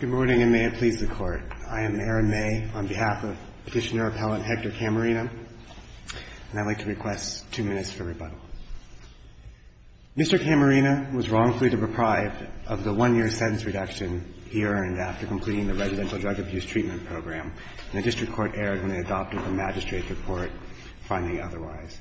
Good morning, and may it please the Court. I am Aaron May, on behalf of Petitioner-Appellant Hector Camarena, and I'd like to request two minutes for rebuttal. Mr. Camarena was wrongfully deprived of the one-year sentence reduction he earned after completing the Residential Drug Abuse Treatment Program, and the District Court erred when they adopted the magistrate's report finding otherwise.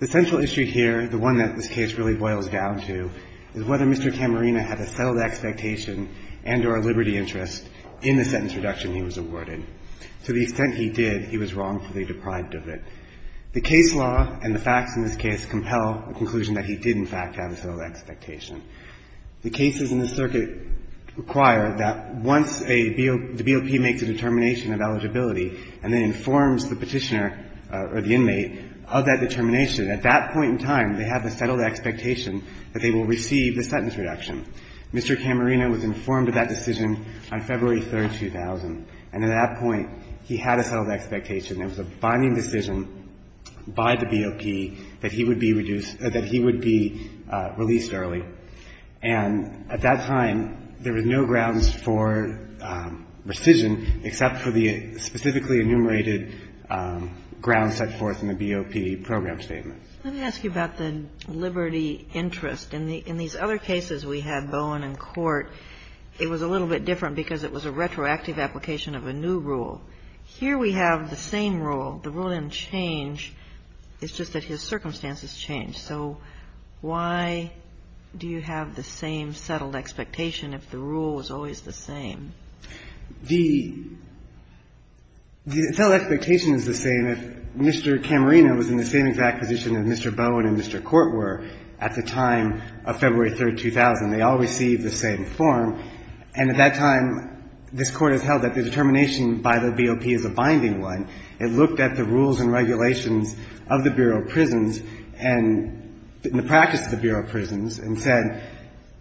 The central issue here, the one that this case really boils down to, is whether Mr. Camarena had a settled expectation and or a liberty interest in the sentence reduction he was awarded. To the extent he did, he was wrongfully deprived of it. The case law and the facts in this case compel a conclusion that he did, in fact, have a settled expectation. The cases in the circuit require that once a BOP makes a determination of eligibility and then informs the Petitioner or the inmate of that determination, at that point in time, they have a settled expectation that they will receive the sentence reduction. Mr. Camarena was informed of that decision on February 3, 2000, and at that point, he had a settled expectation. It was a binding decision by the BOP that he would be reduced or that he would be released early. And at that time, there was no grounds for rescission except for the specifically enumerated grounds set forth in the BOP program statement. Let me ask you about the liberty interest. In these other cases we had, Bowen in court, it was a little bit different because it was a retroactive application of a new rule. Here we have the same rule. The rule didn't change. It's just that his circumstances changed. So why do you have the same settled expectation if the rule is always the same? The settled expectation is the same if Mr. Camarena was in the same exact position as Mr. Bowen and Mr. Court were at the time of February 3, 2000. They all received the same form. And at that time, this Court has held that the determination by the BOP is a binding one. It looked at the rules and regulations of the Bureau of Prisons and the practice of the Bureau of Prisons and said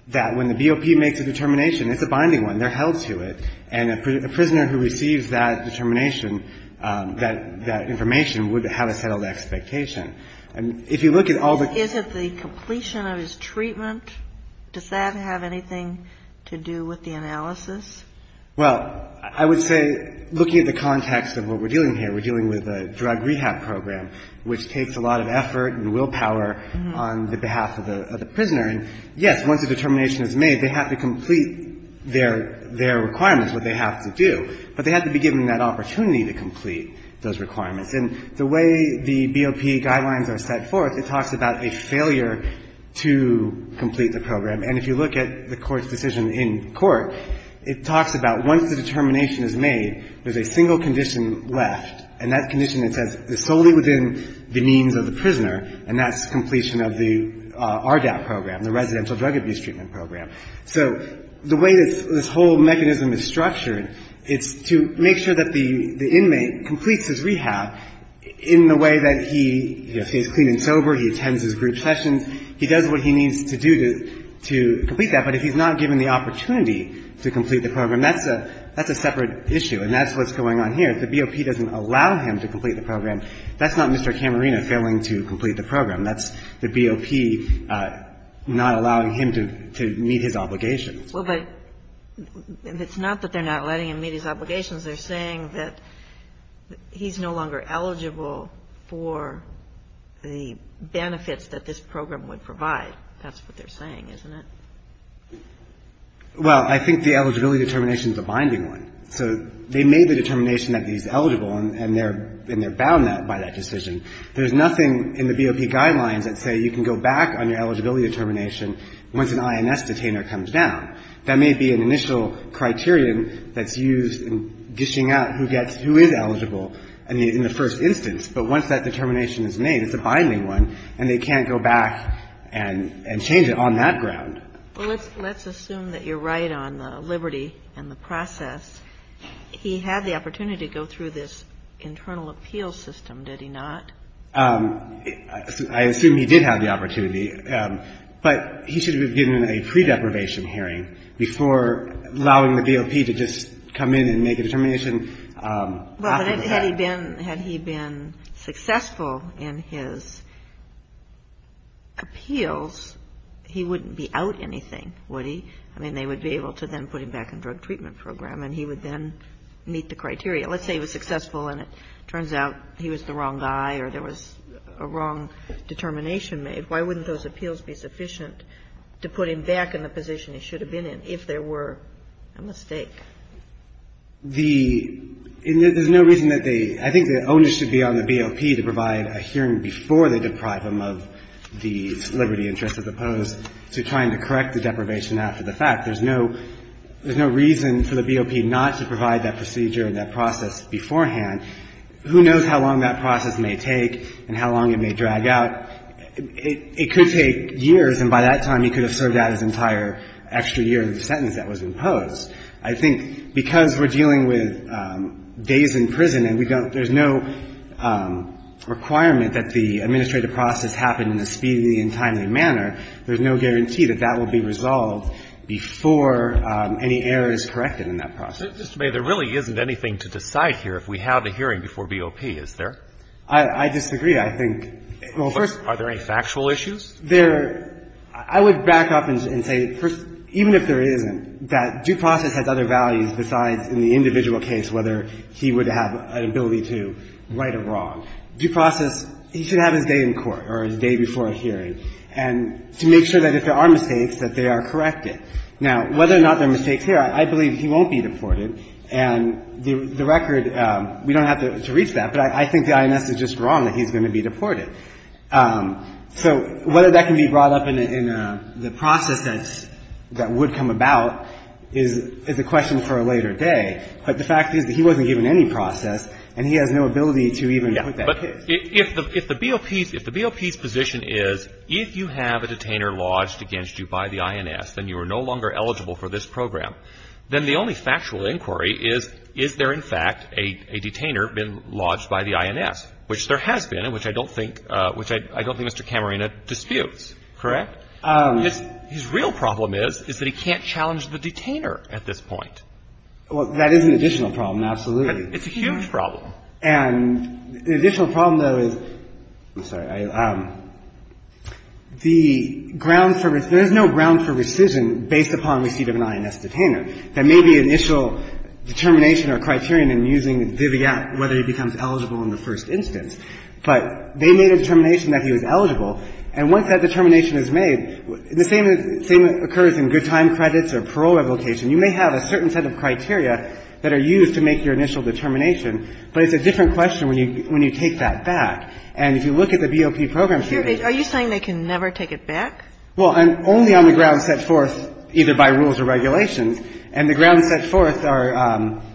that when the BOP makes a determination, it's a binding one. They're held to it. And a prisoner who receives that determination, that information, would have a settled expectation. And if you look at all the ---- Is it the completion of his treatment? Does that have anything to do with the analysis? Well, I would say, looking at the context of what we're dealing here, we're dealing with a drug rehab program, which takes a lot of effort and willpower on the behalf of the prisoner. And, yes, once a determination is made, they have to complete their requirements, what they have to do. But they have to be given that opportunity to complete those requirements. And the way the BOP guidelines are set forth, it talks about a failure to complete the program. And if you look at the Court's decision in court, it talks about once the determination is made, there's a single condition left. And that condition, it says, is solely within the means of the prisoner, and that's completion of the RDAP program, the Residential Drug Abuse Treatment Program. So the way this whole mechanism is structured, it's to make sure that the inmate completes his rehab in the way that he is clean and sober, he attends his group sessions. He does what he needs to do to complete that. But if he's not given the opportunity to complete the program, that's a separate issue, and that's what's going on here. If the BOP doesn't allow him to complete the program, that's not Mr. Camarena failing to complete the program. That's the BOP not allowing him to meet his obligations. Well, but it's not that they're not letting him meet his obligations. They're saying that he's no longer eligible for the benefits that this program would provide. That's what they're saying, isn't it? Well, I think the eligibility determination is a binding one. So they made the determination that he's eligible, and they're bound by that decision. There's nothing in the BOP guidelines that say you can go back on your eligibility determination once an INS detainer comes down. That may be an initial criterion that's used in dishing out who gets who is eligible in the first instance, but once that determination is made, it's a binding one, and they can't go back and change it on that ground. Well, let's assume that you're right on the liberty and the process. He had the opportunity to go through this internal appeal system, did he not? I assume he did have the opportunity, but he should have been given a pre-deprivation hearing before allowing the BOP to just come in and make a determination after the fact. Had he been successful in his appeals, he wouldn't be out anything, would he? I mean, they would be able to then put him back in drug treatment program, and he would then meet the criteria. Let's say he was successful and it turns out he was the wrong guy or there was a wrong determination made. Why wouldn't those appeals be sufficient to put him back in the position he should have been in if there were a mistake? The – there's no reason that they – I think the onus should be on the BOP to provide a hearing before they deprive him of the liberty interest as opposed to trying to correct the deprivation after the fact. There's no reason for the BOP not to provide that procedure and that process beforehand. Who knows how long that process may take and how long it may drag out. It could take years, and by that time, he could have served out his entire extra year in the sentence that was imposed. I think because we're dealing with days in prison and we don't – there's no requirement that the administrative process happen in a speedy and timely manner, there's no guarantee that that will be resolved before any error is corrected in that process. Mr. May, there really isn't anything to decide here if we have a hearing before BOP, is there? I disagree. I think – well, first – Are there any factual issues? There – I would back up and say, first, even if there isn't, that due process has other values besides in the individual case whether he would have an ability to right a wrong. Due process, he should have his day in court or his day before a hearing, and to make sure that if there are mistakes, that they are corrected. Now, whether or not there are mistakes here, I believe he won't be deported, and the record – we don't have to reach that, but I think the INS is just wrong that he's going to be deported. So whether that can be brought up in the process that's – that would come about is a question for a later day, but the fact is that he wasn't given any process and he has no ability to even put that case. But if the BOP's – if the BOP's position is if you have a detainer lodged against you by the INS, then you are no longer eligible for this program, then the only factual inquiry is, is there in fact a detainer been lodged by the INS, which there has been and which I don't think – which I don't think Mr. Camarena disputes, correct? His real problem is, is that he can't challenge the detainer at this point. Well, that is an additional problem, absolutely. But it's a huge problem. And the additional problem, though, is – I'm sorry. The ground for – there is no ground for rescission based upon receipt of an INS detainer. There may be initial determination or criterion in using viviat whether he becomes eligible in the first instance. But they made a determination that he was eligible. And once that determination is made, the same – the same occurs in good time credits or parole revocation. You may have a certain set of criteria that are used to make your initial determination, but it's a different question when you – when you take that back. And if you look at the BOP program statements – Are you saying they can never take it back? Well, only on the grounds set forth either by rules or regulations. And the grounds set forth are –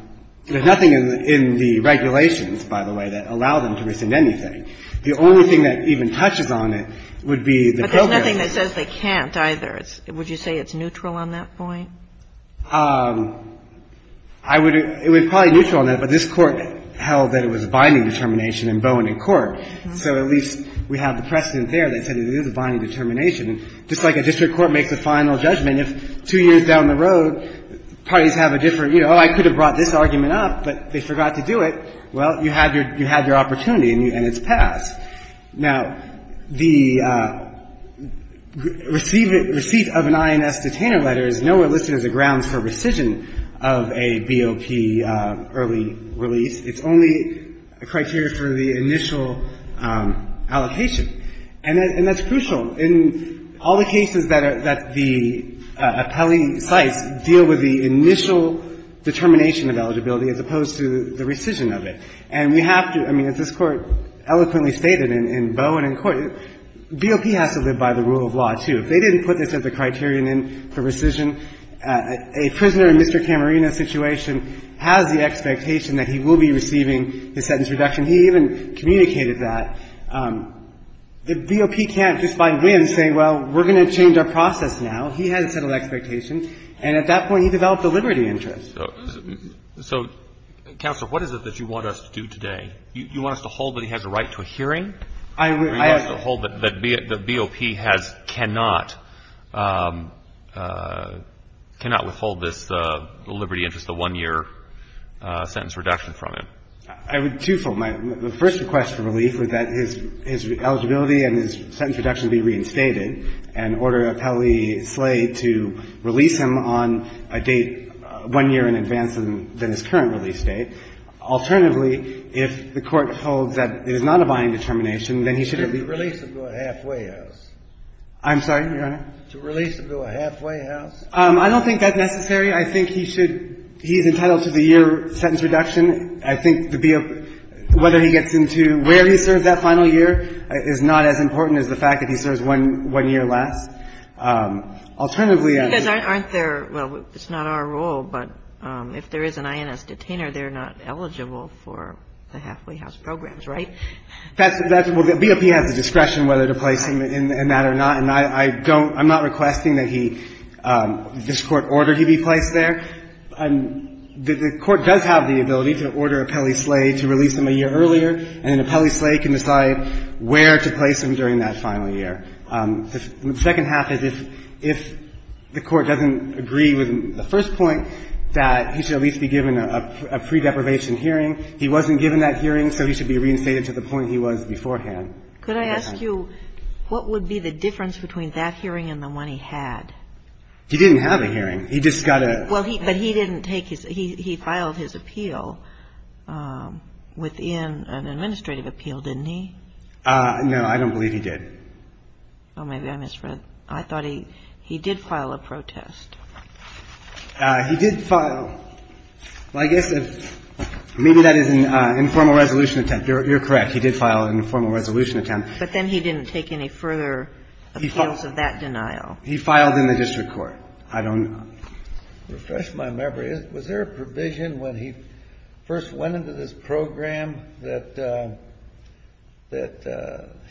there's nothing in the regulations, by the way, that allow them to rescind anything. The only thing that even touches on it would be the program. But there's nothing that says they can't either. Would you say it's neutral on that point? I would – it would probably be neutral on that. But this Court held that it was a binding determination in Bowen and Court. So at least we have the precedent there that said it is a binding determination. Just like a district court makes a final judgment, if two years down the road, parties have a different – you know, oh, I could have brought this argument up, but they forgot to do it, well, you have your – you have your opportunity and it's passed. Now, the receipt of an INS detainer letter is nowhere listed as a grounds for rescission of a BOP early release. It's only a criteria for the initial allocation. And that's crucial. In all the cases that the appellee cites deal with the initial determination of eligibility as opposed to the rescission of it. And we have to – I mean, as this Court eloquently stated in Bowen and Court, BOP has to live by the rule of law, too. If they didn't put this as a criterion in for rescission, a prisoner in Mr. Camarena's situation has the expectation that he will be receiving the sentence reduction. He even communicated that. The BOP can't just by whim say, well, we're going to change our process now. He has a set of expectations. And at that point, he developed a liberty interest. So, Counselor, what is it that you want us to do today? You want us to hold that he has a right to a hearing? I would – Or you want us to hold that BOP has – cannot withhold this liberty interest, the one-year sentence reduction from him? I would twofold. My first request for relief is that his eligibility and his sentence reduction be reinstated and order appellee Slade to release him on a date one year in advance than his current release date. Alternatively, if the Court holds that it is not a binding determination, then he should at least – To release him to a halfway house. I'm sorry, Your Honor? To release him to a halfway house. I don't think that's necessary. I think he should – he's entitled to the year sentence reduction. I think the BOP – whether he gets into where he serves that final year is not as important as the fact that he serves one year less. Alternatively, I would – You guys aren't there – well, it's not our role, but if there is an INS detainer, they're not eligible for the halfway house programs, right? That's – well, the BOP has the discretion whether to place him in that or not. And I don't – I'm not requesting that he – this Court order he be placed there. The Court does have the ability to order a Pele-Slay to release him a year earlier, and then a Pele-Slay can decide where to place him during that final year. The second half is if the Court doesn't agree with the first point, that he should at least be given a pre-deprivation hearing. He wasn't given that hearing, so he should be reinstated to the point he was beforehand. Could I ask you what would be the difference between that hearing and the one he had? He didn't have a hearing. He just got a – Well, he – but he didn't take his – he filed his appeal within an administrative appeal, didn't he? No. I don't believe he did. Oh, maybe I misread. I thought he – he did file a protest. He did file – well, I guess if – maybe that is an informal resolution attempt. You're correct. He did file an informal resolution attempt. But then he didn't take any further appeals of that denial. He filed in the district court. I don't – Refresh my memory. Was there a provision when he first went into this program that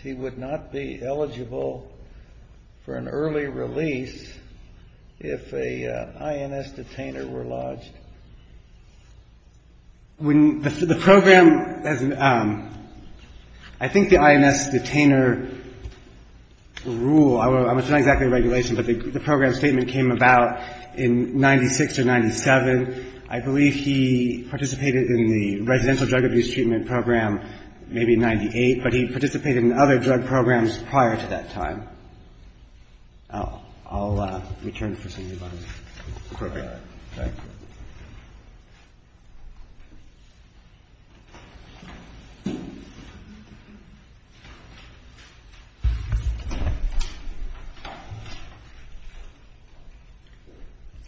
he would not be eligible for an early release if an INS detainer were lodged? The program – I think the INS detainer rule – it's not exactly a regulation, but the program statement came about in 96 or 97. I believe he participated in the residential drug abuse treatment program maybe in 98, but he participated in other drug programs prior to that time. I'll return to this in a moment. Okay. Thank you.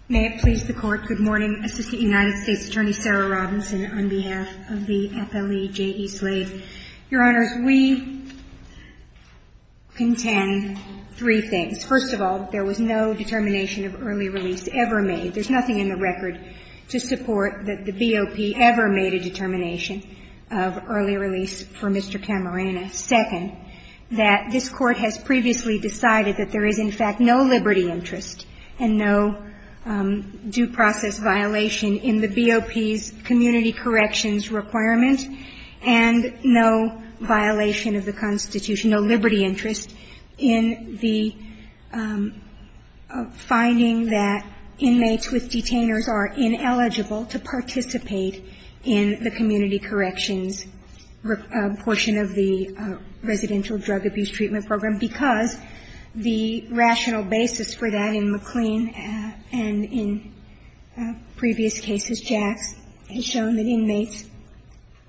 May it please the Court, good morning. Assistant United States Attorney Sarah Robinson on behalf of the FLEJE Slave. Your Honors, we contend three things. First of all, there was no determination of early release ever made. There's nothing in the record to support that the BOP ever made a determination of early release for Mr. Camarena. Second, that this Court has previously decided that there is, in fact, no liberty interest and no due process violation in the BOP's community corrections requirement, and no violation of the Constitution, no liberty interest in the finding that inmates with detainers are ineligible to participate in the community corrections portion of the residential drug abuse treatment program because the rational basis for that in McLean and in previous cases, Jax, has shown that inmates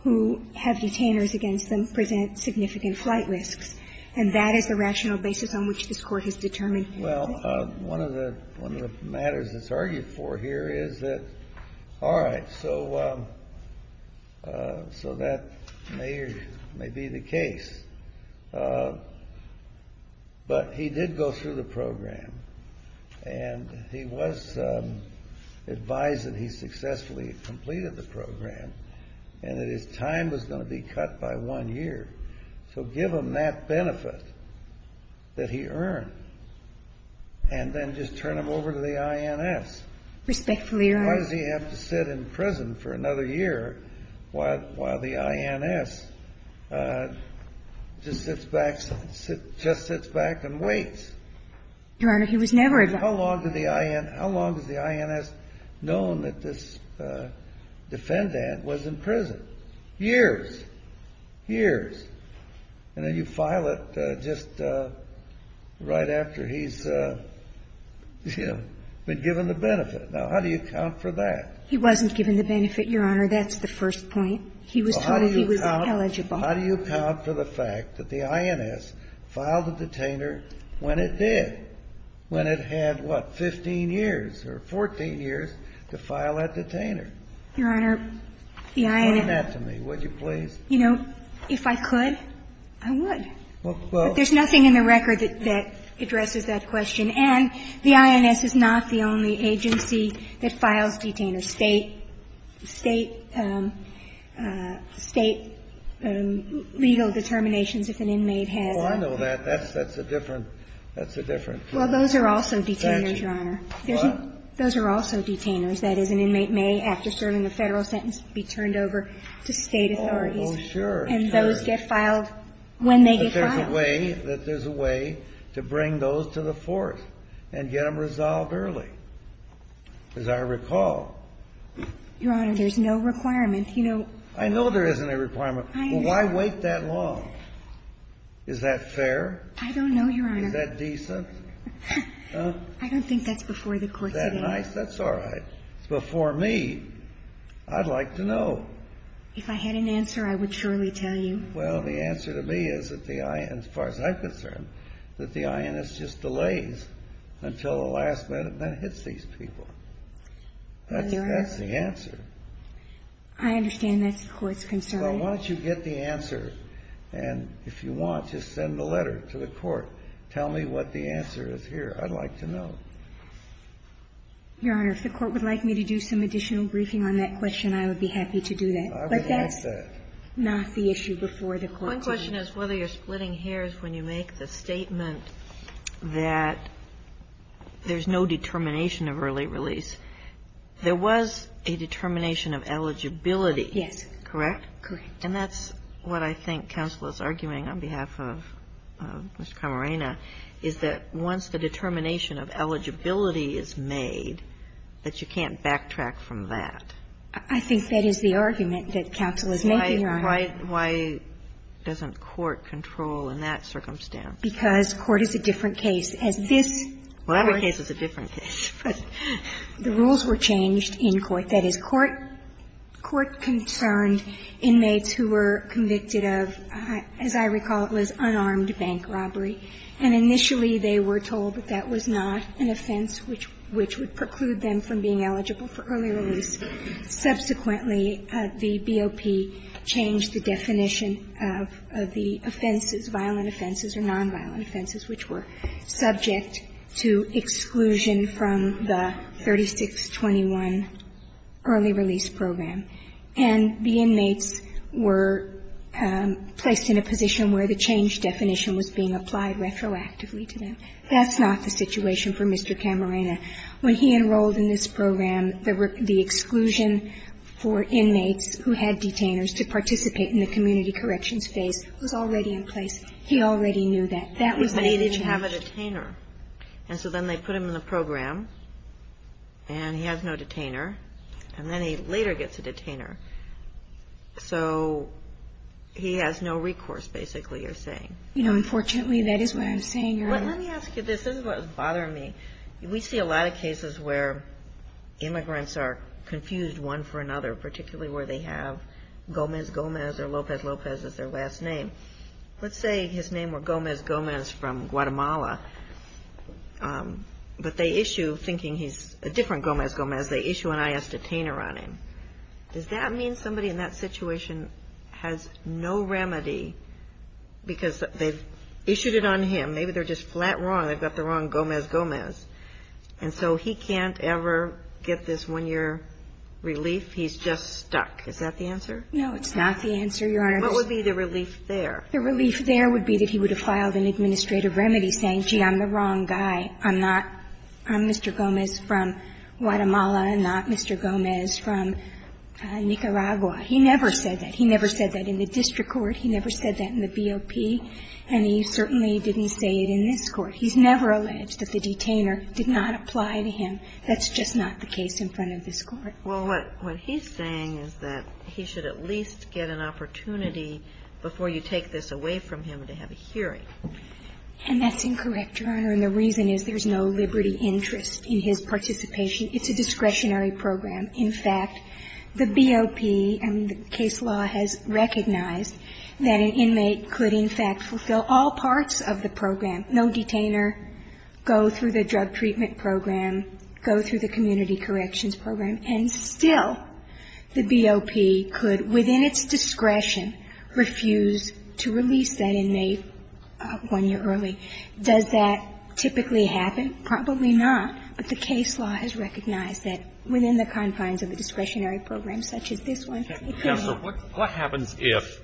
who have detainers against them present significant flight risks, and that is the rational basis on which this Court has determined early release. Well, one of the matters that's argued for here is that, all right, so that may be the case, but he did go through the program, and he was advised that he successfully completed the program, and that his time was going to be cut by one year. So give him that benefit that he earned, and then just turn him over to the INS. Respectfully, Your Honors. Why does he have to sit in prison for another year while the INS just sits back and waits? Your Honor, he was never advised. How long has the INS known that this defendant was in prison? Years. Years. And then you file it just right after he's, you know, been given the benefit. Now, how do you account for that? He wasn't given the benefit, Your Honor. That's the first point. He was told he was eligible. Well, how do you account for the fact that the INS filed a detainer when it did, when it had, what, 15 years or 14 years to file that detainer? Your Honor, the INS. Explain that to me, would you please? You know, if I could, I would. Well, there's nothing in the record that addresses that question. And the INS is not the only agency that files detainers. State legal determinations, if an inmate has. Oh, I know that. That's a different. Well, those are also detainers, Your Honor. Those are also detainers. That is, an inmate may, after serving a Federal sentence, be turned over to State authorities. Oh, sure. And those get filed when they get filed. That there's a way, that there's a way to bring those to the force and get them resolved early. As I recall. Your Honor, there's no requirement. You know. I know there isn't a requirement. I know. Well, why wait that long? Is that fair? I don't know, Your Honor. Is that decent? I don't think that's before the court today. Is that nice? That's all right. It's before me. I'd like to know. If I had an answer, I would surely tell you. Well, the answer to me is that the INS, as far as I'm concerned, that the INS just delays until the last minute and then hits these people. That's the answer. I understand that's the Court's concern. Well, why don't you get the answer, and if you want, just send the letter to the Court. Tell me what the answer is here. I'd like to know. Your Honor, if the Court would like me to do some additional briefing on that question, I would be happy to do that. I would like that. The question is whether you're splitting hairs when you make the statement that there's no determination of early release. There was a determination of eligibility. Yes. Correct? Correct. And that's what I think counsel is arguing on behalf of Mr. Camarena, is that once the determination of eligibility is made, that you can't backtrack from that. I think that is the argument that counsel is making, Your Honor. Why doesn't court control in that circumstance? Because court is a different case. As this Court. Well, every case is a different case. But the rules were changed in court. That is, court concerned inmates who were convicted of, as I recall, it was unarmed bank robbery, and initially they were told that that was not an offense which would preclude them from being eligible for early release. Subsequently, the BOP changed the definition of the offenses, violent offenses or nonviolent offenses, which were subject to exclusion from the 3621 early release program. And the inmates were placed in a position where the change definition was being applied retroactively to them. That's not the situation for Mr. Camarena. When he enrolled in this program, the exclusion for inmates who had detainers to participate in the community corrections phase was already in place. He already knew that. That was the change. But he didn't have a detainer. And so then they put him in the program, and he has no detainer. And then he later gets a detainer. So he has no recourse, basically, you're saying. You know, unfortunately, that is what I'm saying, Your Honor. Let me ask you this. This is what was bothering me. We see a lot of cases where immigrants are confused one for another, particularly where they have Gomez-Gomez or Lopez-Lopez as their last name. Let's say his name were Gomez-Gomez from Guatemala, but they issue, thinking he's a different Gomez-Gomez, they issue an I.S. detainer on him. Does that mean somebody in that situation has no remedy because they've issued it on him? Maybe they're just flat wrong. They've got the wrong Gomez-Gomez. And so he can't ever get this one-year relief. He's just stuck. Is that the answer? No, it's not the answer, Your Honor. What would be the relief there? The relief there would be that he would have filed an administrative remedy saying, gee, I'm the wrong guy. I'm not Mr. Gomez from Guatemala, not Mr. Gomez from Nicaragua. He never said that. He never said that in the district court. He never said that in the BOP. And he certainly didn't say it in this Court. He's never alleged that the detainer did not apply to him. That's just not the case in front of this Court. Well, what he's saying is that he should at least get an opportunity before you take this away from him to have a hearing. And that's incorrect, Your Honor. And the reason is there's no liberty interest in his participation. It's a discretionary program. In fact, the BOP and the case law has recognized that an inmate could, in fact, fulfill all parts of the program. No detainer, go through the drug treatment program, go through the community corrections program, and still the BOP could, within its discretion, refuse to release that inmate one year early. Does that typically happen? Probably not. But the case law has recognized that within the confines of a discretionary program such as this one, it could happen. So what happens if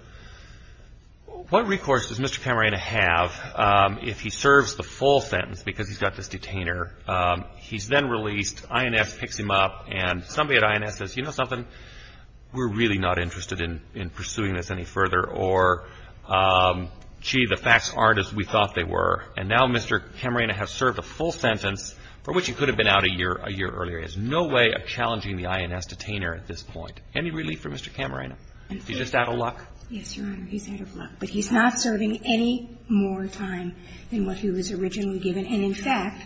— what recourse does Mr. Camarena have if he serves the full sentence because he's got this detainer? He's then released, INS picks him up, and somebody at INS says, you know something, we're really not interested in pursuing this any further, or, gee, the facts aren't as we thought they were. And now Mr. Camarena has served a full sentence, for which he could have been out a year earlier. He has no way of challenging the INS detainer at this point. Any relief for Mr. Camarena? Is he just out of luck? Yes, Your Honor, he's out of luck. But he's not serving any more time than what he was originally given. And, in fact,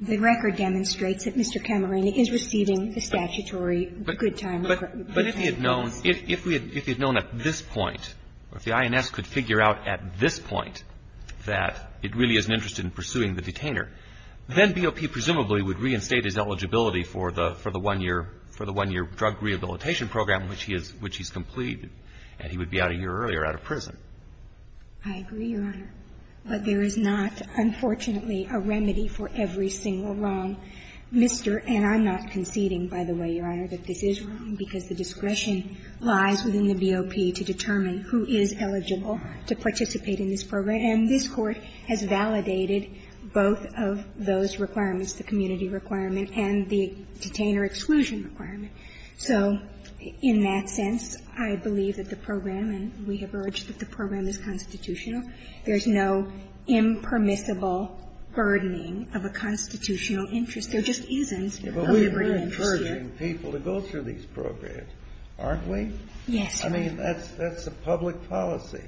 the record demonstrates that Mr. Camarena is receiving the statutory good time. But if he had known, if he had known at this point, if the INS could figure out at this point that it really isn't interested in pursuing the detainer, then BOP presumably would reinstate his eligibility for the one-year drug rehabilitation program, which he's completed, and he would be out a year earlier out of prison. I agree, Your Honor. But there is not, unfortunately, a remedy for every single wrong. Mr. And I'm not conceding, by the way, Your Honor, that this is wrong, because the discretion lies within the BOP to determine who is eligible to participate in this program. And this Court has validated both of those requirements, the community requirement and the detainer exclusion requirement. So in that sense, I believe that the program, and we have urged that the program is constitutional. There's no impermissible burdening of a constitutional interest. There just isn't a liberal interest here. But we're encouraging people to go through these programs, aren't we? Yes, Your Honor. I mean, that's a public policy.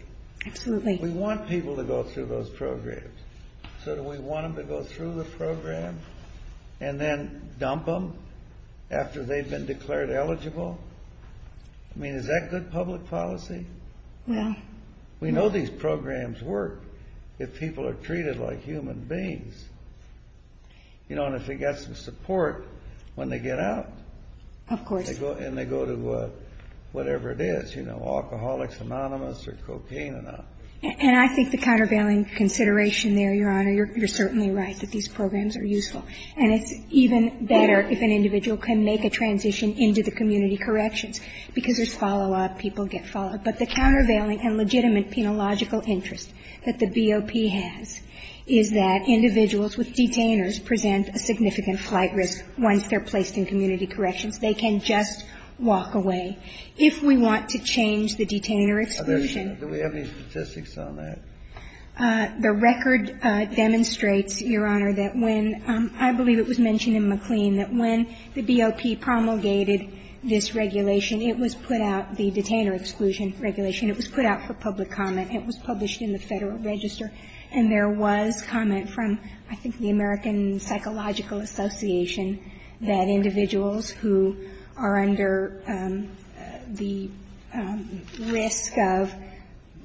Absolutely. We want people to go through those programs. So do we want them to go through the program and then dump them after they've been declared eligible? I mean, is that good public policy? Well. We know these programs work if people are treated like human beings, you know, and if they get some support when they get out. Of course. And they go to whatever it is, you know, Alcoholics Anonymous or Cocaine Enough. And I think the countervailing consideration there, Your Honor, you're certainly right that these programs are useful. And it's even better if an individual can make a transition into the community corrections, because there's follow-up, people get followed. But the countervailing and legitimate penological interest that the BOP has is that individuals with detainers present a significant flight risk once they're placed in community corrections. They can just walk away. If we want to change the detainer exclusion. Do we have any statistics on that? The record demonstrates, Your Honor, that when I believe it was mentioned in McLean that when the BOP promulgated this regulation, it was put out, the detainer exclusion regulation, it was put out for public comment. It was published in the Federal Register. And there was comment from I think the American Psychological Association that individuals who are under the risk of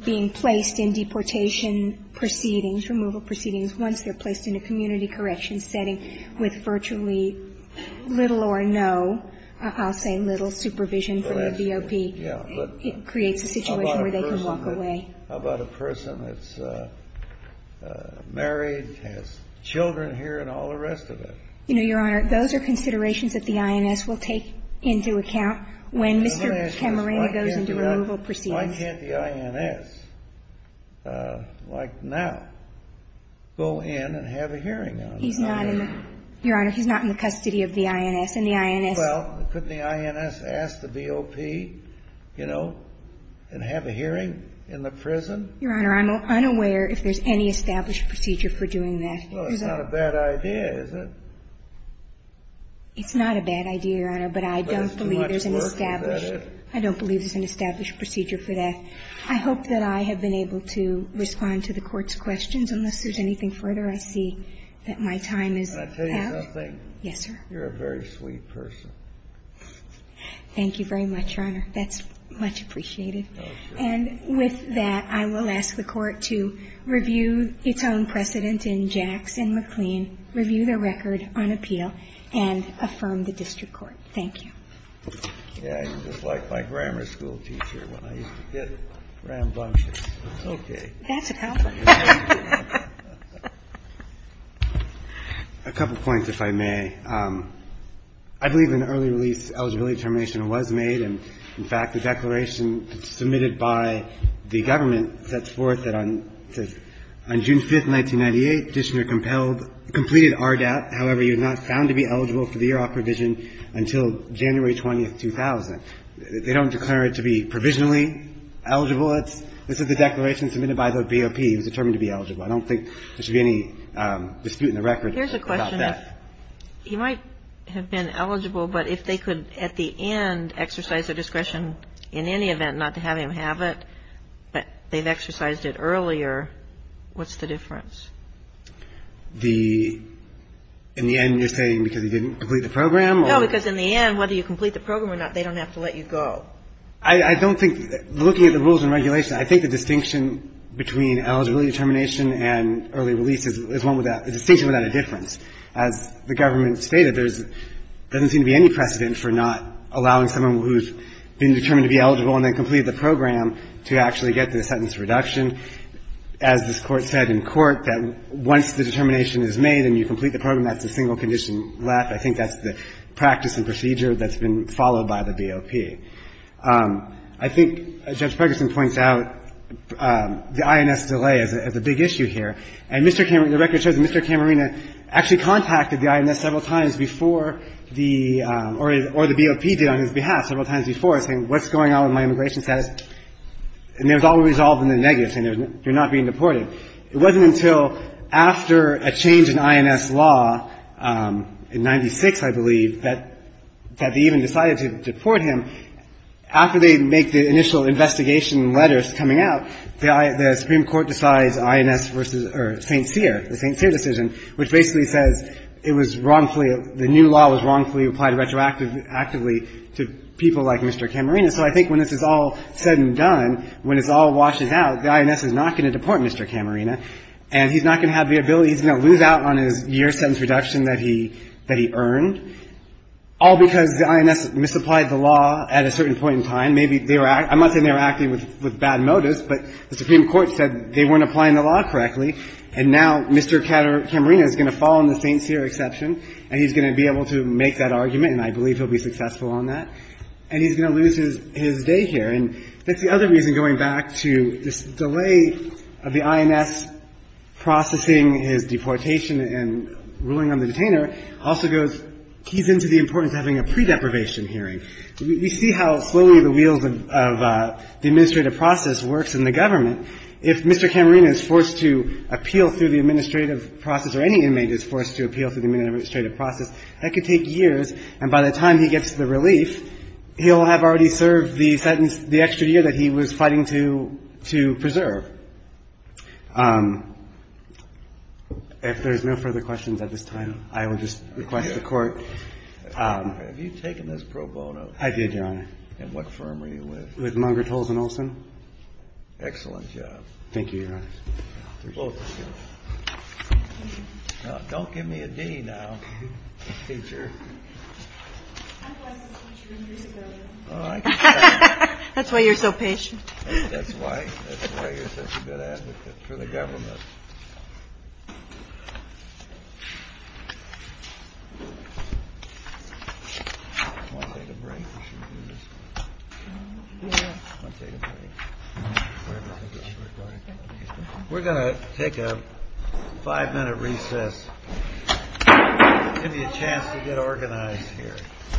being placed in deportation proceedings, removal proceedings, once they're placed in a community corrections setting with virtually little or no, I'll say little, supervision from the BOP, it creates a situation where they can walk away. How about a person that's married, has children here, and all the rest of it? You know, Your Honor, those are considerations that the INS will take into account when Mr. Camarena goes into removal proceedings. Why can't the INS, like now, go in and have a hearing on this? Your Honor, he's not in the custody of the INS. Well, couldn't the INS ask the BOP, you know, and have a hearing in the prison? Your Honor, I'm unaware if there's any established procedure for doing that. Well, it's not a bad idea, is it? It's not a bad idea, Your Honor. But I don't believe there's an established procedure for that. I hope that I have been able to respond to the Court's questions. Unless there's anything further, I see that my time is out. Can I tell you something? Yes, sir. You're a very sweet person. Thank you very much, Your Honor. That's much appreciated. And with that, I will ask the Court to review its own precedent in Jacks and McLean, review the record on appeal, and affirm the district court. Thank you. Yeah, I'm just like my grammar school teacher when I used to get rambunctious. Okay. That's a compliment. A couple points, if I may. I believe an early release eligibility determination was made. In fact, the declaration submitted by the government sets forth that on June 5th, 1998, Dishner completed RDAP, however, he was not found to be eligible for the year-off provision until January 20th, 2000. They don't declare it to be provisionally eligible. This is the declaration submitted by the BOP. He was determined to be eligible. I don't think there should be any dispute in the record about that. He might have been eligible, but if they could, at the end, exercise their discretion, in any event, not to have him have it, but they've exercised it earlier, what's the difference? The end you're saying because he didn't complete the program? No, because in the end, whether you complete the program or not, they don't have to let you go. I don't think, looking at the rules and regulations, I think the distinction between eligibility determination and early release is one without a distinction without a difference. As the government stated, there doesn't seem to be any precedent for not allowing someone who has been determined to be eligible and then completed the program to actually get the sentence reduction. As this Court said in court, that once the determination is made and you complete the program, that's a single condition left. I think that's the practice and procedure that's been followed by the BOP. I think Judge Pegerson points out the INS delay as a big issue here. And Mr. Cameron – the record shows that Mr. Cameron actually contacted the INS several times before the – or the BOP did on his behalf several times before, saying, what's going on with my immigration status? And it was all resolved in the negative, saying you're not being deported. It wasn't until after a change in INS law in 1996, I believe, that they even decided to deport him. After they make the initial investigation letters coming out, the Supreme Court decides INS versus – or St. Cyr, the St. Cyr decision, which basically says it was wrongfully – the new law was wrongfully applied retroactively to people like Mr. Cameron. So I think when this is all said and done, when it's all washed out, the INS is not going to deport Mr. Cameron, and he's not going to have the ability – he's going to lose out on his year sentence reduction that he – that he earned, all because the INS misapplied the law at a certain point in time. Maybe they were – I'm not saying they were acting with bad motives, but the Supreme Court decided they weren't applying the law correctly, and now Mr. Cameron is going to fall in the St. Cyr exception, and he's going to be able to make that argument, and I believe he'll be successful on that. And he's going to lose his day here. And that's the other reason, going back to this delay of the INS processing his deportation and ruling on the detainer, also goes – keys into the importance of having a pre-deprivation hearing. We see how slowly the wheels of the administrative process works in the government. If Mr. Cameron is forced to appeal through the administrative process, or any inmate is forced to appeal through the administrative process, that could take years, and by the time he gets the relief, he'll have already served the sentence – the extra year that he was fighting to – to preserve. If there's no further questions at this time, I will just request the Court. Kennedy. Have you taken this pro bono? I did, Your Honor. And what firm are you with? With Munger, Tolles & Olson. Excellent job. Thank you, Your Honor. Now, don't give me a D now, teacher. That's why you're so patient. That's why. That's why you're such a good advocate for the government. We're going to take a five-minute recess. Give you a chance to get organized here. Thank you.